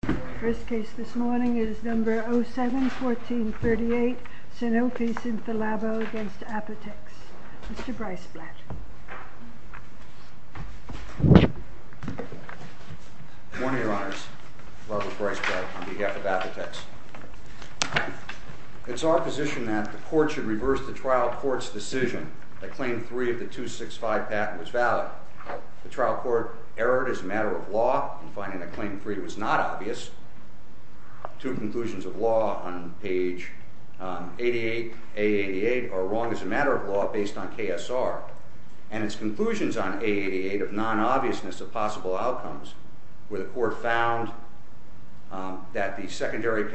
The first case this morning is number 07-1438, Sanofi-Synthelabo v. Apotex. Mr. Breisblatt. Good morning, Your Honors. Robert Breisblatt on behalf of Apotex. It's our position that the court should reverse the trial court's decision that claim 3 of the 265 patent was valid. The trial court erred as a matter of law in finding that claim 3 was not obvious. Two conclusions of law on page 88, A88, are wrong as a matter of law based on KSR. And its conclusions on A88 of non-obviousness of possible outcomes, where the court found that the secondary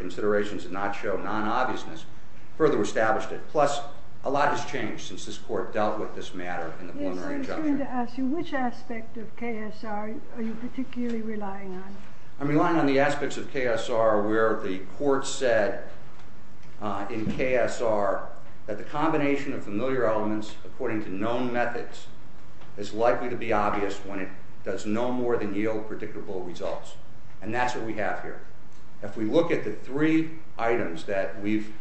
considerations did not show non-obviousness, further established it. Plus, a lot has changed since this court dealt with this matter in the preliminary injunction. Yes, I was going to ask you which aspect of KSR are you particularly relying on? I'm relying on the aspects of KSR where the court said in KSR that the combination of familiar elements according to known methods is likely to be obvious when it does no more than yield predictable results. And that's what we have here. If we look at the three items that we've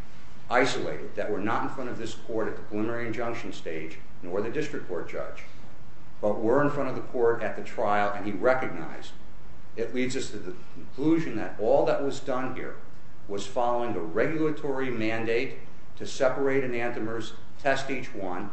isolated that were not in front of this court at the preliminary injunction stage, nor the district court judge, but were in front of the court at the trial and he recognized, it leads us to the conclusion that all that was done here was following a regulatory mandate to separate enantiomers, test each one,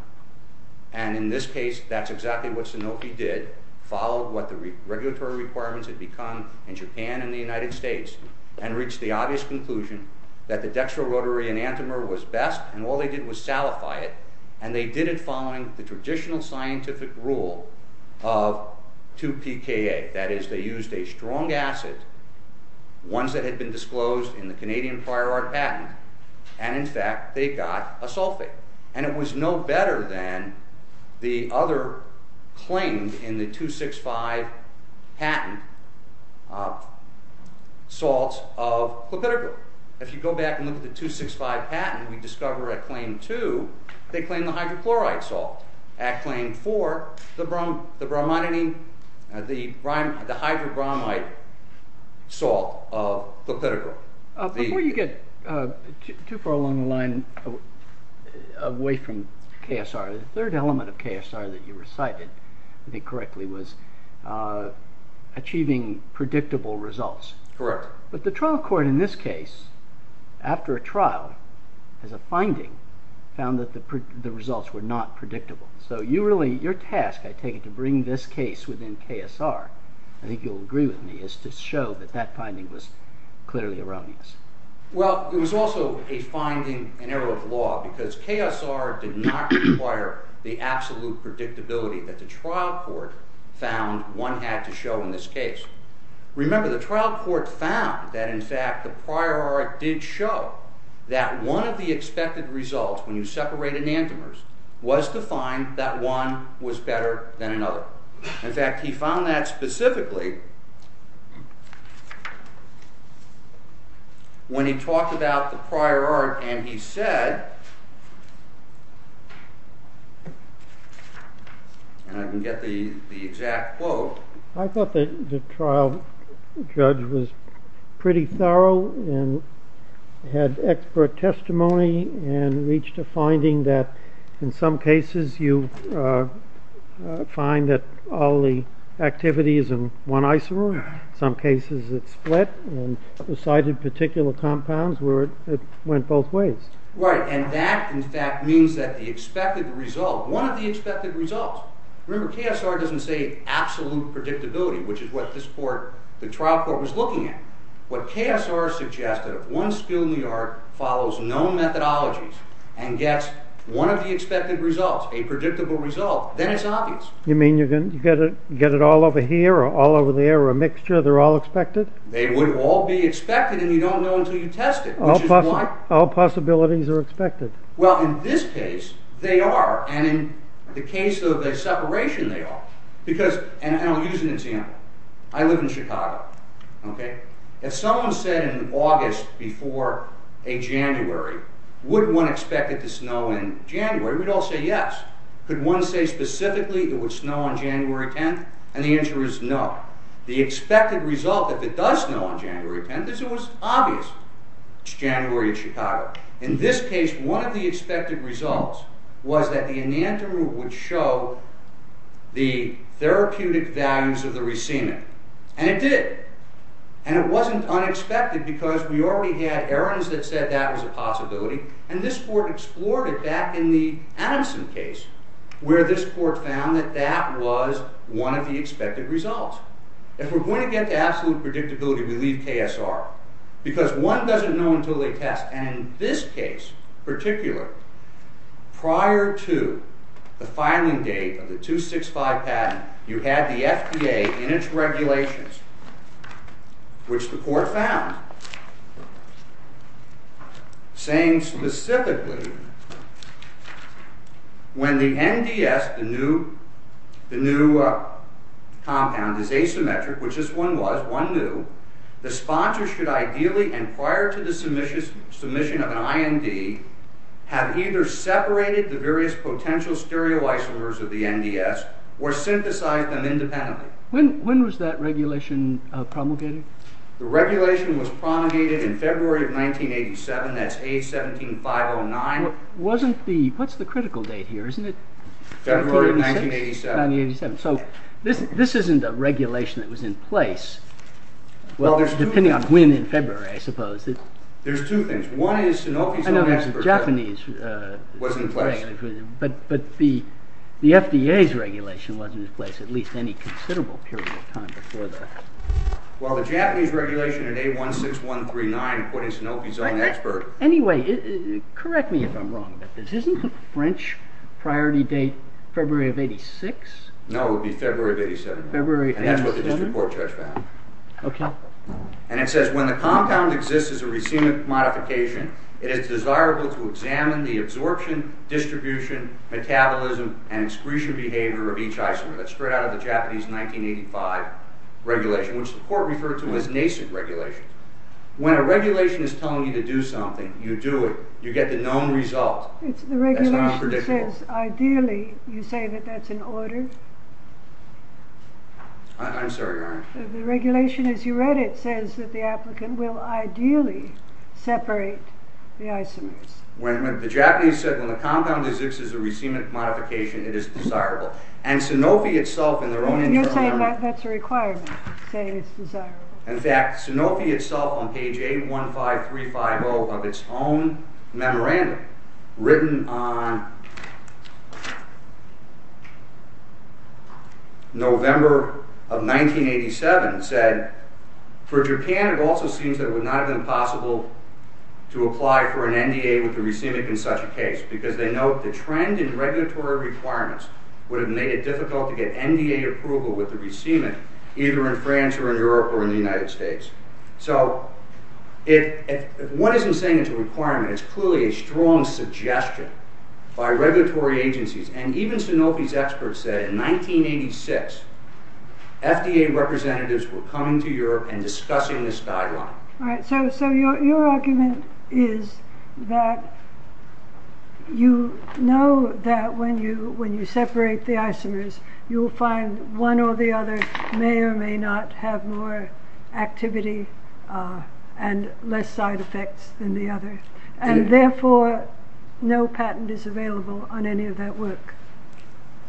and in this case, that's exactly what Sanofi did, followed what the regulatory requirements had become in Japan and the United States, and reached the obvious conclusion that the dextrorotary enantiomer was best, and all they did was salify it, and they did it following the traditional scientific rule of 2-PKA. That is, they used a strong acid, ones that had been disclosed in the Canadian prior art patent, and in fact, they got a sulfate. And it was no better than the other claims in the 2-6-5 patent, salts of clopidogrel. If you go back and look at the 2-6-5 patent, we discover at claim 2, they claim the hydrochlorite salt. At claim 4, the bromidine, the hydrobromide salt of clopidogrel. Before you get too far along the line, away from KSR, the third element of KSR that you recited, if I think correctly, was achieving predictable results. Correct. But the trial court in this case, after a trial, as a finding, found that the results were not predictable. So your task, I take it, to bring this case within KSR, I think you'll agree with me, is to show that that finding was clearly erroneous. Well, it was also a finding, an error of law, because KSR did not require the absolute predictability that the trial court found one had to show in this case. Remember, the trial court found that, in fact, the prior art did show that one of the expected results, when you separate enantiomers, was to find that one was better than another. In fact, he found that specifically when he talked about the prior art and he said, and I can get the exact quote. I thought that the trial judge was pretty thorough and had expert testimony and reached a finding that, in some cases, you find that all the activities in one isomer, in some cases it split and recited particular compounds where it went both ways. Right. And that, in fact, means that the expected result, one of the expected results, remember, KSR doesn't say absolute predictability. Which is what the trial court was looking at. What KSR suggested, if one skill in the art follows known methodologies and gets one of the expected results, a predictable result, then it's obvious. You mean you get it all over here or all over there or a mixture, they're all expected? They would all be expected and you don't know until you test it. All possibilities are expected. Well, in this case they are and in the case of the separation they are. And I'll use an example. I live in Chicago. If someone said in August before a January, would one expect it to snow in January, we'd all say yes. Could one say specifically it would snow on January 10th? And the answer is no. The expected result, if it does snow on January 10th, is it was obvious it's January in Chicago. In this case, one of the expected results was that the enantiomer would show the therapeutic values of the rescement. And it did. And it wasn't unexpected because we already had errors that said that was a possibility. And this court explored it back in the Adamson case where this court found that that was one of the expected results. If we're going to get to absolute predictability, we leave KSR. Because one doesn't know until they test. And in this case in particular, prior to the filing date of the 265 patent, you had the FDA in its regulations, which the court found, saying specifically when the NDS, the new compound, is asymmetric, which this one was, one new, the sponsor should ideally, and prior to the submission of an IND, have either separated the various potential stereoisomers of the NDS or synthesized them independently. When was that regulation promulgated? The regulation was promulgated in February of 1987. That's age 17509. What's the critical date here? February of 1987. So this isn't a regulation that was in place, depending on when in February, I suppose. There's two things. One is Sanofi's own expert. I know there's a Japanese. But the FDA's regulation wasn't in place at least any considerable period of time before that. Well, the Japanese regulation in A16139 put in Sanofi's own expert. Anyway, correct me if I'm wrong about this. Isn't the French priority date February of 86? No, it would be February of 87. And that's what the district court judge found. And it says, when the compound exists as a racemic modification, it is desirable to examine the absorption, distribution, metabolism, and excretion behavior of each isomer. That's straight out of the Japanese 1985 regulation, which the court referred to as NACIC regulation. When a regulation is telling you to do something, you do it. You get the known result. The regulation says, ideally, you say that that's in order? I'm sorry, Your Honor. The regulation, as you read it, says that the applicant will ideally separate the isomers. The Japanese said, when the compound exists as a racemic modification, it is desirable. And Sanofi itself, in their own internal argument... You're saying that's a requirement, saying it's desirable. In fact, Sanofi itself, on page 815350 of its own memorandum, written on November of 1987, said, for Japan, it also seems that it would not have been possible to apply for an NDA with a racemic in such a case, because they note the trend in regulatory requirements would have made it difficult to get NDA approval with a racemic, either in France or in Europe or in the United States. So, if one isn't saying it's a requirement, it's clearly a strong suggestion by regulatory agencies. And even Sanofi's experts said, in 1986, FDA representatives were coming to Europe and discussing this guideline. So, your argument is that you know that when you separate the isomers, you'll find one or the other may or may not have more activity and less side effects than the other. And therefore, no patent is available on any of that work.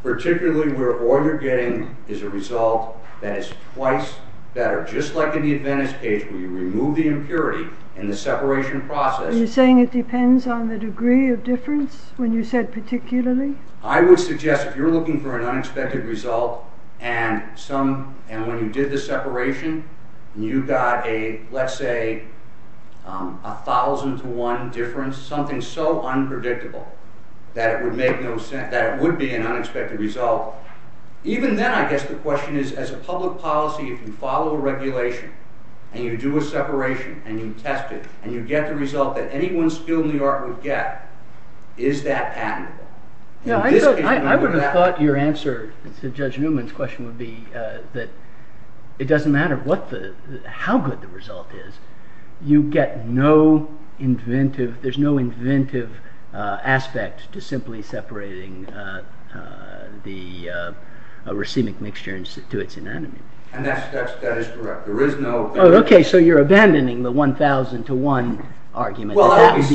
Particularly where all you're getting is a result that is twice better. So, just like in the Adventist page, where you remove the impurity in the separation process... Are you saying it depends on the degree of difference, when you said particularly? I would suggest, if you're looking for an unexpected result, and when you did the separation, you got a, let's say, a thousand to one difference, something so unpredictable, that it would be an unexpected result. Even then, I guess the question is, as a public policy, if you follow a regulation, and you do a separation, and you test it, and you get the result that anyone skilled in the art would get, is that admirable? I would have thought your answer to Judge Newman's question would be that it doesn't matter how good the result is. You get no inventive, there's no inventive aspect to simply separating the racemic mixture to its anatomy. And that is correct. There is no... Oh, okay, so you're abandoning the one thousand to one argument. That would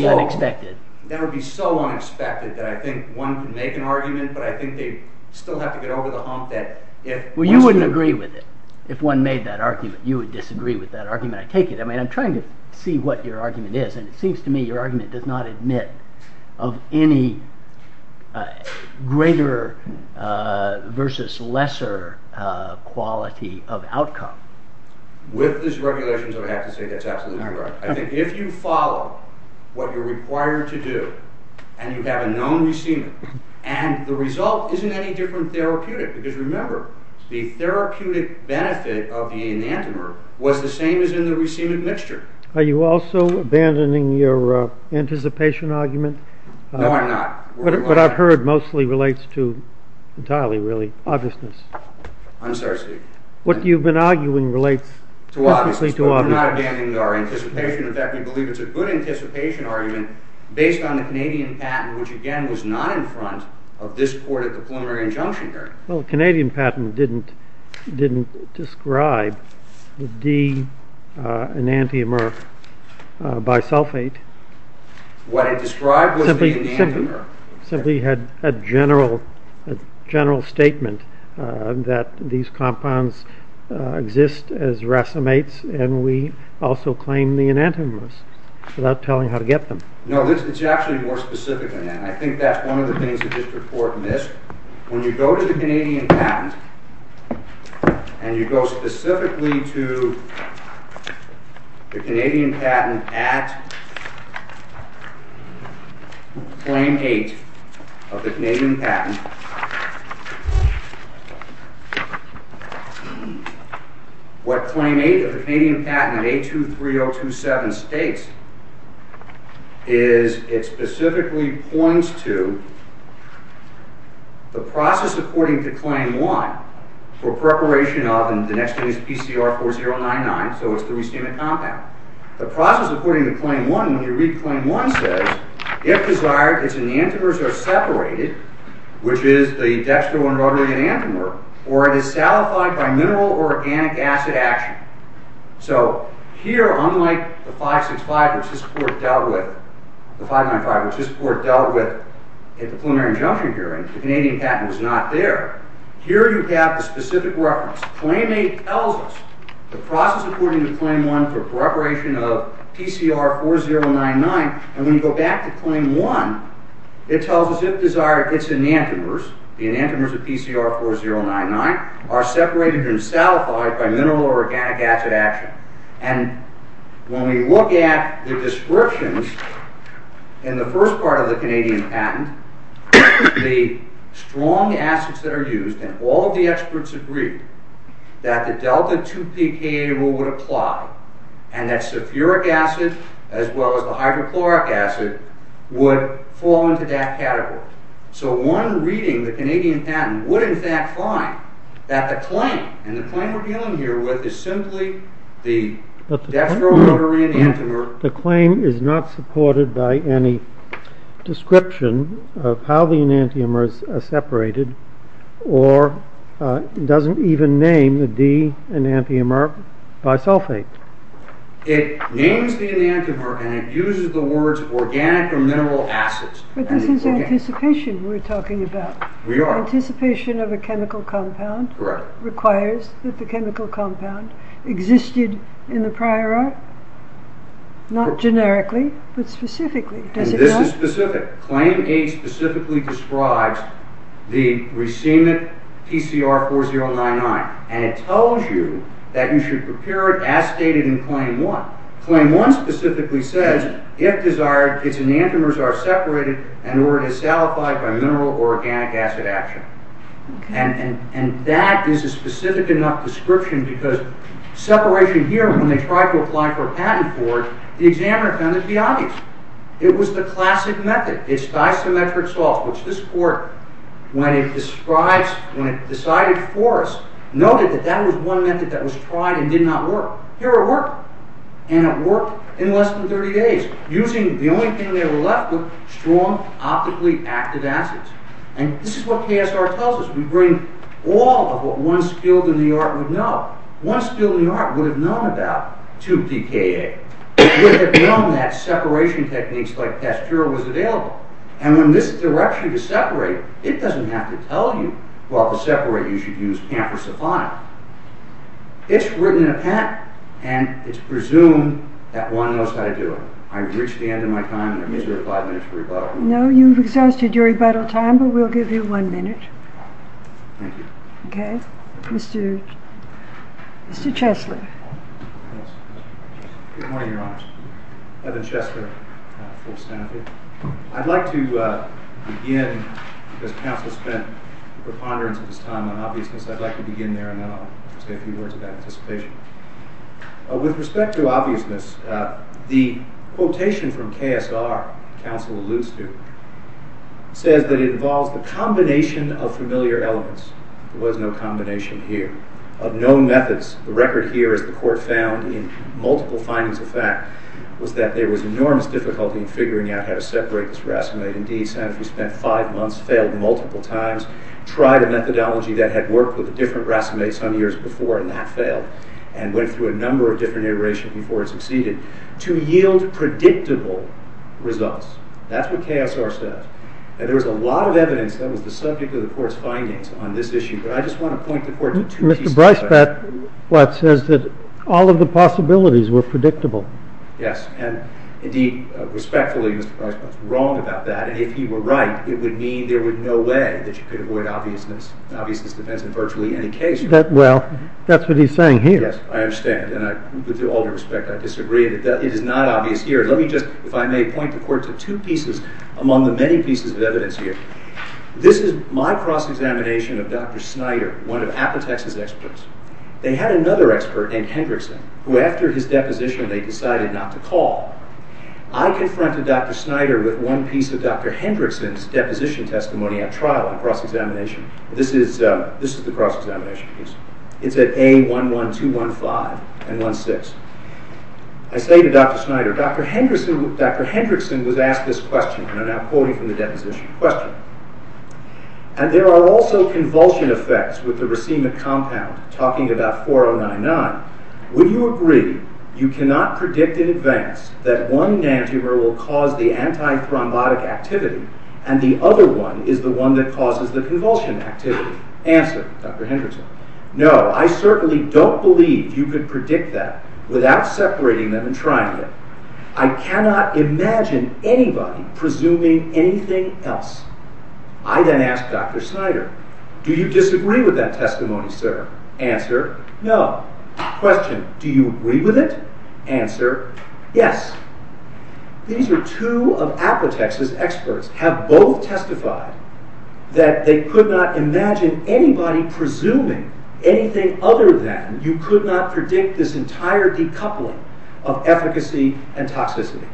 be so unexpected that I think one could make an argument, but I think they'd still have to get over the hump that... Well, you wouldn't agree with it, if one made that argument. You would disagree with that argument. I take it. I mean, I'm trying to see what your argument is, and it seems to me your argument does not admit of any greater versus lesser quality of outcome. With this regulation, I would have to say that's absolutely correct. I think if you follow what you're required to do, and you have a known receiver, and the result isn't any different therapeutic, because remember, the therapeutic benefit of the enantiomer was the same as in the racemic mixture. Are you also abandoning your anticipation argument? No, I'm not. What I've heard mostly relates to, entirely really, obviousness. I'm sorry, Steve. What you've been arguing relates specifically to obviousness. I'm not abandoning our anticipation. In fact, we believe it's a good anticipation argument based on the Canadian patent, which again was not in front of this court at the preliminary injunction here. Well, the Canadian patent didn't describe the D enantiomer bisulfate. What it described was the enantiomer. It simply had a general statement that these compounds exist as racemates, and we also claim the enantiomers without telling how to get them. No, it's actually more specific than that. I think that's one of the things that this court missed. When you go to the Canadian patent, and you go specifically to the Canadian patent at claim 8 of the Canadian patent, what claim 8 of the Canadian patent at A23027 states is it specifically points to the process according to claim 1 for preparation of, and the next thing is PCR 4099, so it's the racemic compound. The process according to claim 1, when you read claim 1, says, if desired, its enantiomers are separated, which is the dextroenrotating enantiomer, or it is salified by mineral or organic acid action. So here, unlike the 565, which this court dealt with, the 595, which this court dealt with at the preliminary injunction hearing, the Canadian patent was not there. Here you have the specific reference. Claim 8 tells us the process according to claim 1 for preparation of PCR 4099, and when you go back to claim 1, it tells us, if desired, its enantiomers, the enantiomers of PCR 4099, are separated and salified by mineral or organic acid action. When we look at the descriptions in the first part of the Canadian patent, the strong acids that are used, and all of the experts agree, that the delta-2PK would apply, and that sulfuric acid as well as the hydrochloric acid would fall into that category. So one reading, the Canadian patent, would in fact find that the claim, and the claim we're dealing here with is simply the dextroenrotating enantiomer. The claim is not supported by any description of how the enantiomers are separated, or it doesn't even name the enantiomer bisulfate. It names the enantiomer and it uses the words organic or mineral acids. But this is anticipation we're talking about. We are. Anticipation of a chemical compound. Correct. Requires that the chemical compound existed in the prior art. Not generically, but specifically. And this is specific. Claim 8 specifically describes the racemic PCR 4099. And it tells you that you should prepare it as stated in claim 1. Claim 1 specifically says, if desired, its enantiomers are separated and or it is salified by mineral or organic acid action. And that is a specific enough description, because separation here, when they tried to apply for a patent for it, the examiner found it to be obvious. It was the classic method. It's disymmetric salt, which this court, when it decided for us, noted that that was one method that was tried and did not work. Here it worked. And it worked in less than 30 days, using the only thing they were left with, strong, optically active acids. And this is what KSR tells us. We bring all of what one skilled in the art would know. One skilled in the art would have known about 2PKA. It would have known that separation techniques like Pasteur was available. And in this direction to separate, it doesn't have to tell you, well, to separate you should use PAMP or Cephalon. It's written in a patent. And it's presumed that one knows how to do it. I've reached the end of my time, and I'm miserable five minutes for rebuttal. No, you've exhausted your rebuttal time, but we'll give you one minute. Thank you. Okay. Mr. Chesler. Good morning, Your Honor. Evan Chesler, full staff here. I'd like to begin, because counsel spent preponderance of his time on obviousness, I'd like to begin there, and then I'll say a few words about anticipation. With respect to obviousness, the quotation from KSR, counsel alludes to, says that it involves the combination of familiar elements. There was no combination here of known methods. The record here, as the court found in multiple findings of fact, was that there was enormous difficulty in figuring out how to separate this racemate. Indeed, Sanofi spent five months, failed multiple times, tried a methodology that had worked with a different racemate some years before, and that failed, and went through a number of different iterations before it succeeded, to yield predictable results. That's what KSR says. There was a lot of evidence that was the subject of the court's findings on this issue, but I just want to point the court to two pieces of evidence. Mr. Breisbott says that all of the possibilities were predictable. Yes, and indeed, respectfully, Mr. Breisbott's wrong about that, and if he were right, it would mean there was no way that you could avoid obviousness. Well, that's what he's saying here. Yes, I understand, and with all due respect, I disagree. It is not obvious here. Let me just, if I may, point the court to two pieces among the many pieces of evidence here. This is my cross-examination of Dr. Snyder, one of Apotex's experts. They had another expert named Hendrickson, who, after his deposition, they decided not to call. I confronted Dr. Snyder with one piece of Dr. Hendrickson's deposition testimony at trial and cross-examination. This is the cross-examination piece. It's at A.1.1.2.1.5 and 1.6. I say to Dr. Snyder, Dr. Hendrickson was asked this question, and I'm now quoting from the deposition question, and there are also convulsion effects with the racemic compound, talking about 4.0.9.9. Would you agree you cannot predict in advance that one nanotuber will cause the antithrombotic activity and the other one is the one that causes the convulsion activity? Answer, Dr. Hendrickson. No, I certainly don't believe you could predict that without separating them and trying it. I cannot imagine anybody presuming anything else. I then ask Dr. Snyder, do you disagree with that testimony, sir? Answer, no. Question, do you agree with it? Answer, yes. These are two of Apotex's experts, have both testified that they could not imagine anybody presuming anything other than you could not predict this entire decoupling of efficacy and toxicity.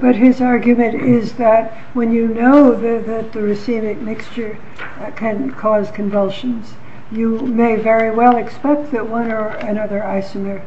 But his argument is that when you know that the racemic mixture can cause convulsions, you may very well expect that one or another isomer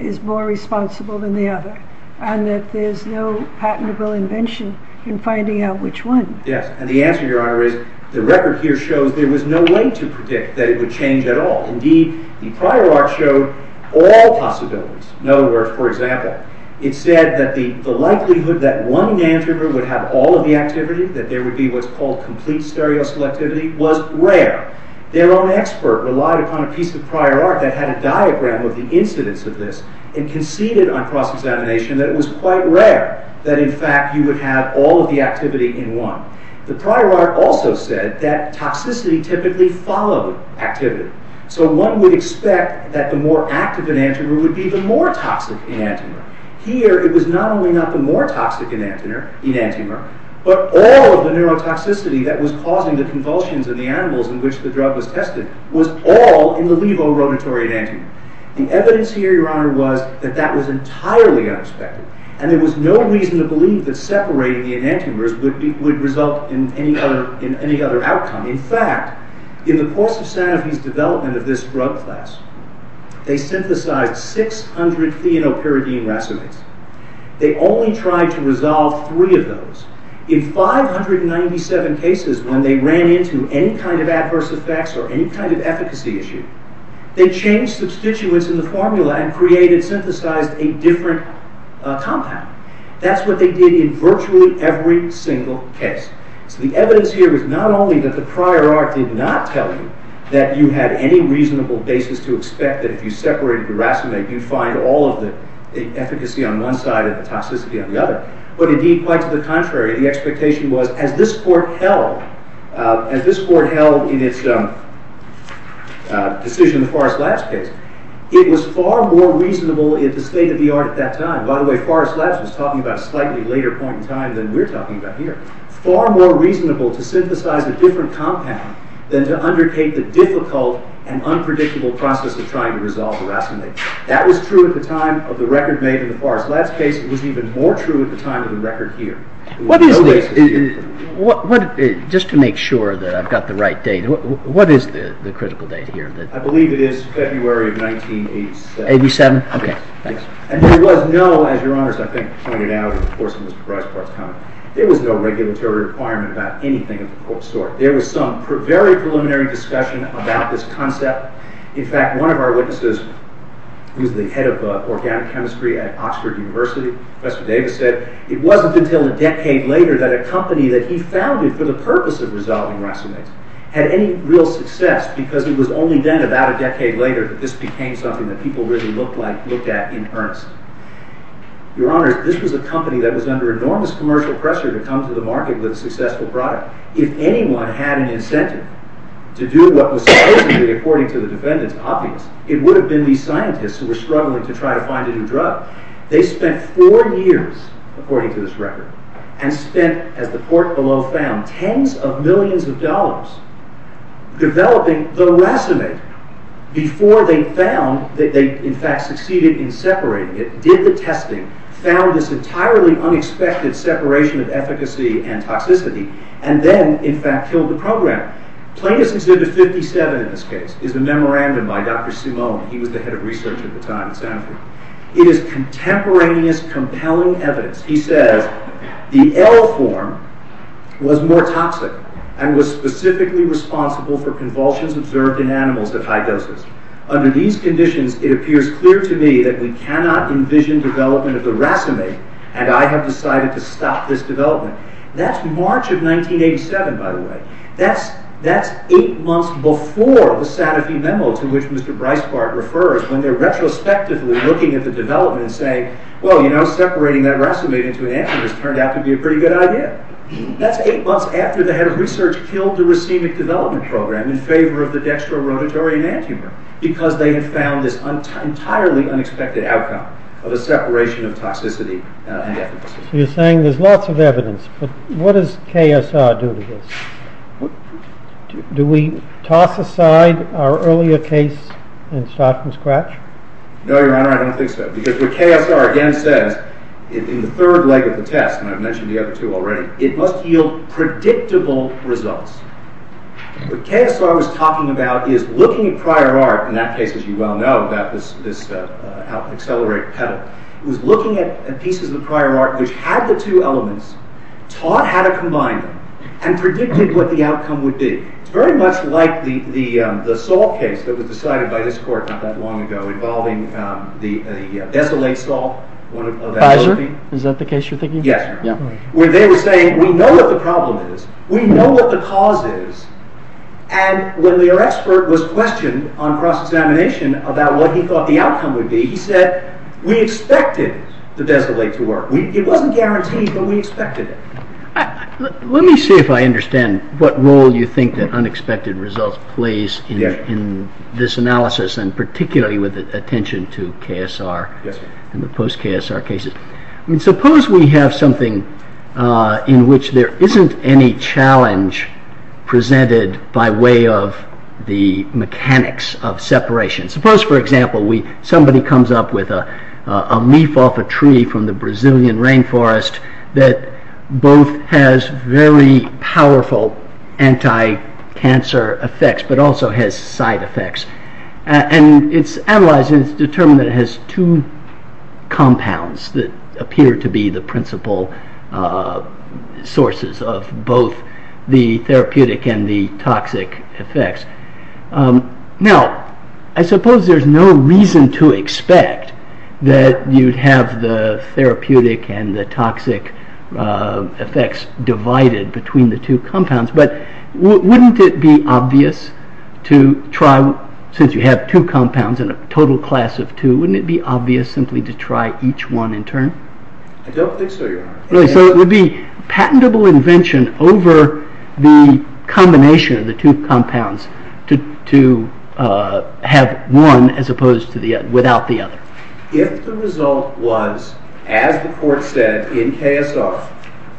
is more responsible than the other. And that there's no patentable invention in finding out which one. Yes, and the answer, Your Honor, is the record here shows there was no way to predict that it would change at all. Indeed, the prior art showed all possibilities. In other words, for example, it said that the likelihood that one nanotuber would have all of the activity, that there would be what's called complete stereoselectivity, was rare. Their own expert relied upon a piece of prior art that had a diagram of the incidence of this and conceded on cross-examination that it was quite rare that in fact you would have all of the activity in one. The prior art also said that toxicity typically followed activity. So one would expect that the more active enantiomer would be the more toxic enantiomer. Here, it was not only not the more toxic enantiomer, but all of the neurotoxicity that was causing the convulsions in the animals in which the drug was tested was all in the levorotatory enantiomer. The evidence here, Your Honor, was that that was entirely unexpected, and there was no reason to believe that separating the enantiomers would result in any other outcome. In fact, in the course of Sanofi's development of this drug class, they synthesized 600 theanopyridine racemates. They only tried to resolve three of those. In 597 cases, when they ran into any kind of adverse effects or any kind of efficacy issue, they changed substituents in the formula and synthesized a different compound. That's what they did in virtually every single case. So the evidence here is not only that the prior art did not tell you that you had any reasonable basis to expect that if you separated the racemate, you'd find all of the efficacy on one side and the toxicity on the other, but indeed, quite to the contrary, the expectation was, as this court held, as this court held in its decision in the Forrest Labs case, it was far more reasonable in the state of the art at that time, by the way, Forrest Labs was talking about a slightly later point in time than we're talking about here, far more reasonable to synthesize a different compound than to undertake the difficult and unpredictable process of trying to resolve the racemate. That was true at the time of the record made in the Forrest Labs case. It was even more true at the time of the record here. Just to make sure that I've got the right date, what is the critical date here? I believe it is February of 1987. And there was no, as your honors, I think, pointed out in Mr. Breisbart's comment, there was no regulatory requirement about anything of the sort. There was some very preliminary discussion about this concept. In fact, one of our witnesses, he was the head of organic chemistry at Oxford University, Professor Davis said, it wasn't until a decade later that a company that he founded for the purpose of resolving racemates had any real success, because it was only then, about a decade later, that this became something that people really looked at in earnest. Your honors, this was a company that was under enormous commercial pressure to come to the market with a successful product. If anyone had an incentive to do what was supposedly, according to the defendants, obvious, it would have been these scientists who were struggling to try to find a new drug. They spent four years, according to this record, and spent, as the court below found, tens of millions of dollars developing the racemate before they found that they, in fact, succeeded in separating it, did the testing, found this entirely unexpected separation of efficacy and toxicity, and then, in fact, killed the program. Plaintiffs' Exhibit 57, in this case, is a memorandum by Dr. Simone. He was the head of research at the time at Stanford. It is contemporaneous, compelling evidence. He says, the L form was more toxic, and was specifically responsible for convulsions observed in animals at high doses. Under these conditions, it appears clear to me that we cannot envision development of the racemate, and I have decided to stop this development. That's March of 1987, by the way. That's eight months before the Sadafi memo, to which Mr. Breisbart refers, when they're retrospectively looking at the development and saying, well, you know, separating that racemate into an antemur has turned out to be a pretty good idea. That's eight months after the head of research killed the racemic development program in favor of the dextrorotatory antemur, because they had found this entirely unexpected outcome of a separation of toxicity and efficacy. So you're saying there's lots of evidence, but what does KSR do to this? Do we toss aside our earlier case and start from scratch? No, Your Honor, I don't think so, because what KSR again says, in the third leg of the test, and I've mentioned the other two already, it must yield predictable results. What KSR was talking about is looking at prior art, in that case, as you well know, about this accelerate pedal. It was looking at pieces of prior art which had the two elements, taught how to combine them, and predicted what the outcome would be. It's very much like the salt case that was decided by this court not that long ago, involving the desolate salt. Pfizer? Is that the case you're thinking? Yes, Your Honor. Where they were saying, we know what the problem is, we know what the cause is, and when their expert was questioned on cross-examination about what he thought the outcome would be, he said, we expected the desolate to work. It wasn't guaranteed, but we expected it. Let me see if I understand what role you think that unexpected results play in this analysis, and particularly with attention to KSR and the post-KSR cases. Suppose we have something in which there isn't any challenge presented by way of the mechanics of separation. Suppose, for example, somebody comes up with a leaf off a tree from the Brazilian rainforest that both has very powerful anti-cancer effects, but also has side effects. It's analyzed and it's determined that it has two compounds that appear to be the principal sources of both the therapeutic and the toxic effects. Now, I suppose there's no reason to expect that you'd have the therapeutic and the toxic effects divided between the two compounds, but wouldn't it be obvious to try, since you have two compounds and a total class of two, wouldn't it be obvious simply to try each one in turn? I don't think so, Your Honor. So it would be patentable invention over the combination of the two compounds to have one as opposed to the other, without the other. If the result was, as the court said in KSR,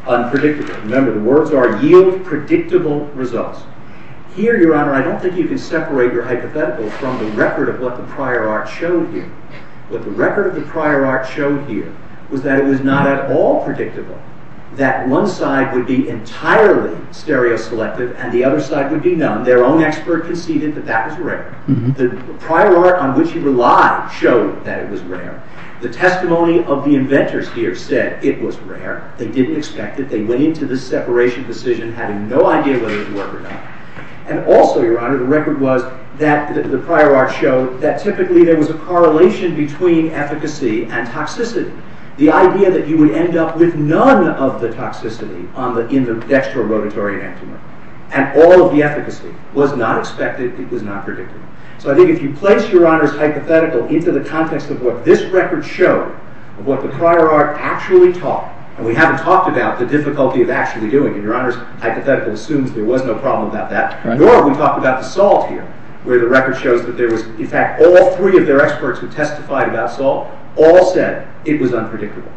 unpredictable. Remember, the words are yield predictable results. Here, Your Honor, I don't think you can separate your hypothetical from the record of what the prior art showed you. What the record of the prior art showed here was that it was not at all predictable. That one side would be entirely stereoselective and the other side would be none. Their own expert conceded that that was rare. The prior art on which he relied showed that it was rare. The testimony of the inventors here said it was rare. They didn't expect it. They went into the separation decision having no idea whether it was rare or not. And also, Your Honor, the record was that the prior art showed that typically there was a correlation between efficacy and toxicity. The idea that you would end up with none of the toxicity in the dextrorotatory entiment and all of the efficacy was not expected, it was not predictable. So I think if you place Your Honor's hypothetical into the context of what this record showed, of what the prior art actually taught, and we haven't talked about the difficulty of actually doing it, Your Honor's hypothetical assumes there was no problem about that, nor have we talked about the salt here, where the record shows that there was, in fact, all three of their experts who testified about salt all said it was unpredictable.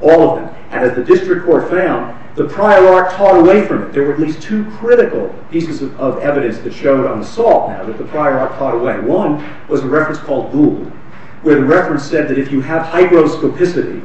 All of them. And as the district court found, the prior art caught away from it. There were at least two critical pieces of evidence that showed on the salt that the prior art caught away. One was a reference called Gould, where the reference said that if you have hygroscopicity,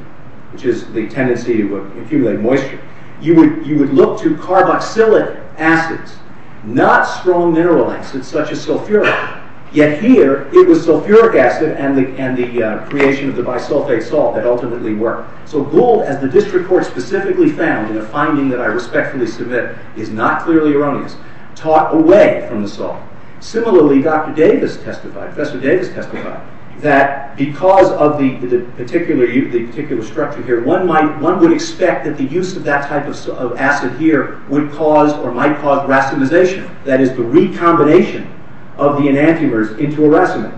which is the tendency to accumulate moisture, you would look to carboxylic acids, not strong mineral acids such as sulfuric. Yet here, it was sulfuric acid and the creation of the bisulfate salt that ultimately worked. So Gould, as the district court specifically found in a finding that I respectfully submit, is not clearly erroneous, taught away from the salt. Similarly, Dr. Davis testified, Professor Davis testified, that because of the particular structure here, one would expect that the use of that type of acid here would cause or might cause racemization. That is, the recombination of the enantiomers into a racemate.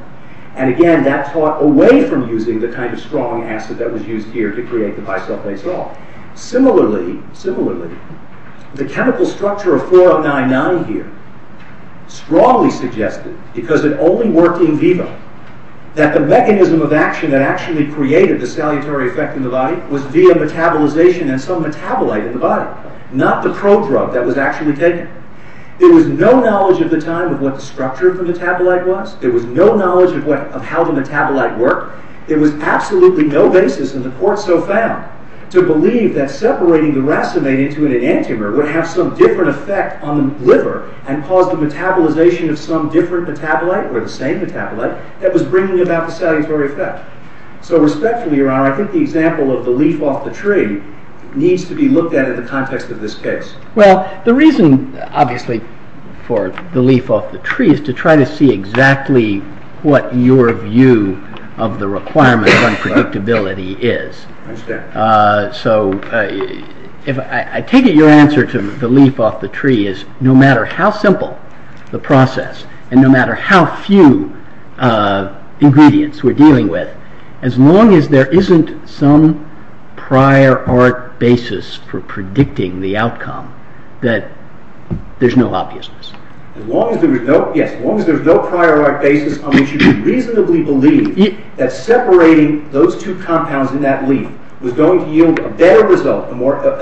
And again, that taught away from using the kind of strong acid that was used here to create the bisulfate salt. Similarly, similarly, the chemical structure of 4099 here strongly suggested, because it only worked in vivo, that the mechanism of action that actually created the salutary effect in the body was via metabolization and some metabolite in the body. Not the pro-drug that was actually taken. There was no knowledge at the time of what the structure of the metabolite was. There was no knowledge of how the metabolite worked. There was absolutely no basis in the court so found to believe that separating the racemate into an enantiomer would have some different effect on the liver and cause the metabolization of some different metabolite or the same metabolite that was bringing about the salutary effect. So respectfully, Your Honor, I think the example of the leaf off the tree needs to be looked at in the context of this case. Well, the reason, obviously, for the leaf off the tree is to try to see exactly what your view of the requirement of unpredictability is. I understand. So, I take it your answer to the leaf off the tree is no matter how simple the process and no matter how few ingredients we're dealing with, as long as there isn't some prior art basis for predicting the outcome, that there's no obviousness. Yes, as long as there's no prior art basis on which you can reasonably believe that separating those two compounds in that leaf was going to yield a better result,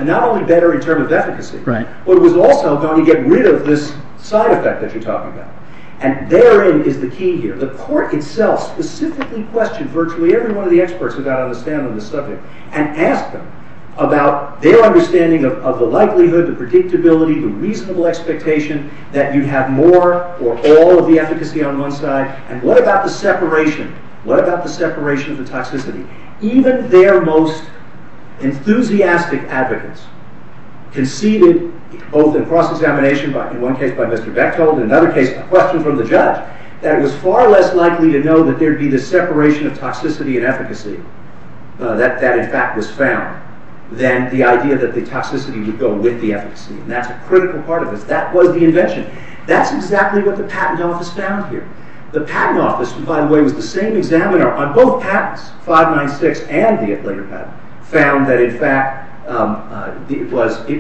not only better in terms of efficacy, but it was also going to get rid of this side effect that you're talking about. And therein is the key here. The court itself specifically questioned virtually every one of the experts who got on the stand on this subject and asked them about their understanding of the likelihood, the predictability, the reasonable expectation that you have more or all of the efficacy on one side. And what about the separation? What about the separation of the toxicity? Even their most enthusiastic advocates conceded, both in cross-examination, in one case by Mr. Bechtold, in another case, a question from the judge, that it was far less likely to know that there'd be the separation of toxicity and efficacy that, in fact, was found than the idea that the toxicity would go with the efficacy. And that's a critical part of this. That was the invention. That's exactly what the Patent Office found here. The Patent Office, who, by the way, was the same examiner on both patents, 596 and the later patent, found that, in fact, it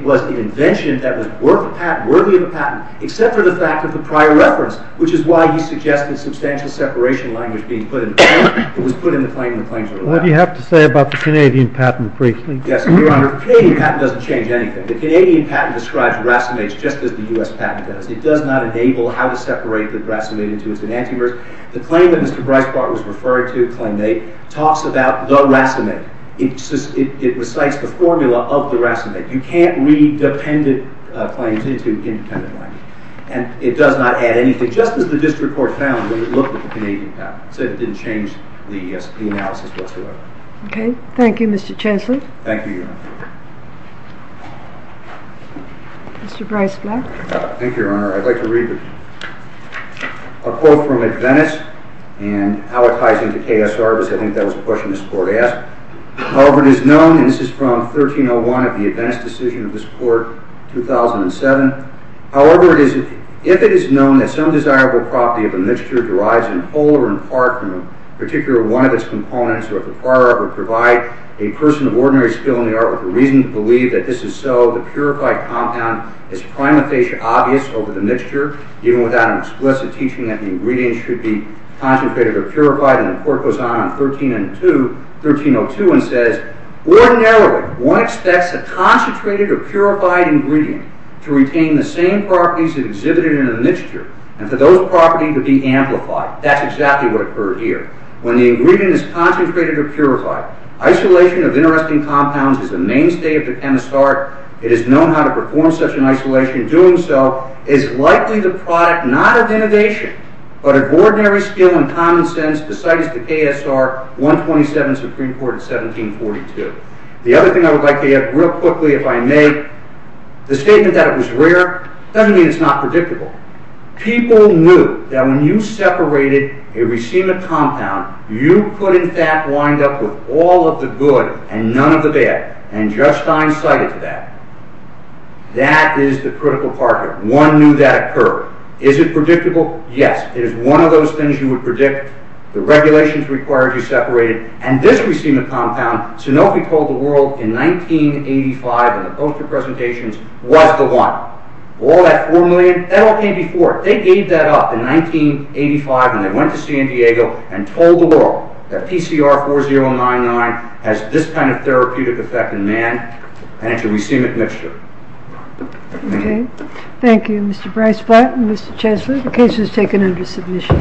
was the invention that was worthy of a patent, except for the fact of the prior reference, which is why he suggested substantial separation language being put in. It was put in the claim that claims were allowed. What do you have to say about the Canadian patent, briefly? Yes, Your Honor. The Canadian patent doesn't change anything. The Canadian patent describes racemates just as the U.S. patent does. It does not enable how to separate the racemate into its enantiomers. The claim that Mr. Breisbart was referring to, claim 8, talks about the racemate. It recites the formula of the racemate. You can't read dependent claims into independent language. And it does not add anything. Just as the District Court found when it looked at the Canadian patent. It said it didn't change the analysis whatsoever. Okay. Thank you, Mr. Chancellor. Thank you, Your Honor. Mr. Breisblatt. Thank you, Your Honor. I'd like to read a quote from Adventist, and how it ties into KSR, because I think that was a question this Court asked. However, it is known, and this is from 1301 of the Adventist decision of this Court, 2007. However, if it is known that some desirable property of a mixture derives in whole or in part from a particular one of its components, or if the prior author provide a person of ordinary skill in the art with a reason to believe that this is so, the purified compound is prima facie obvious over the mixture, even without an explicit teaching that the ingredient should be concentrated or purified. And the Court goes on in 1302 and says, Ordinarily, one expects a concentrated or purified ingredient to retain the same properties exhibited in a mixture, and for those properties to be amplified. That's exactly what occurred here. When the ingredient is concentrated or purified, isolation of interesting compounds is the mainstay of the chemist's art. It is known how to perform such an isolation. Doing so is likely the product not of innovation, but of ordinary skill and common sense, the site is the KSR 127 Supreme Court in 1742. The other thing I would like to add real quickly, if I may, the statement that it was rare doesn't mean it's not predictable. People knew that when you separated a racemic compound, you could in fact wind up with all of the good and none of the bad, and Judge Stein cited that. That is the critical part here. One knew that occurred. Is it predictable? Yes. It is one of those things you would predict. The regulations required you separate it, and this racemic compound, Sanofi told the world in 1985 in the poster presentations, was the one. All that formula, that all came before it. They gave that up in 1985 when they went to San Diego and told the world that PCR 4099 has this kind of therapeutic effect in man, and it's a racemic mixture. Okay. Thank you, Mr. Bryce-Flatten, Mr. Chancellor. The case is taken under submission.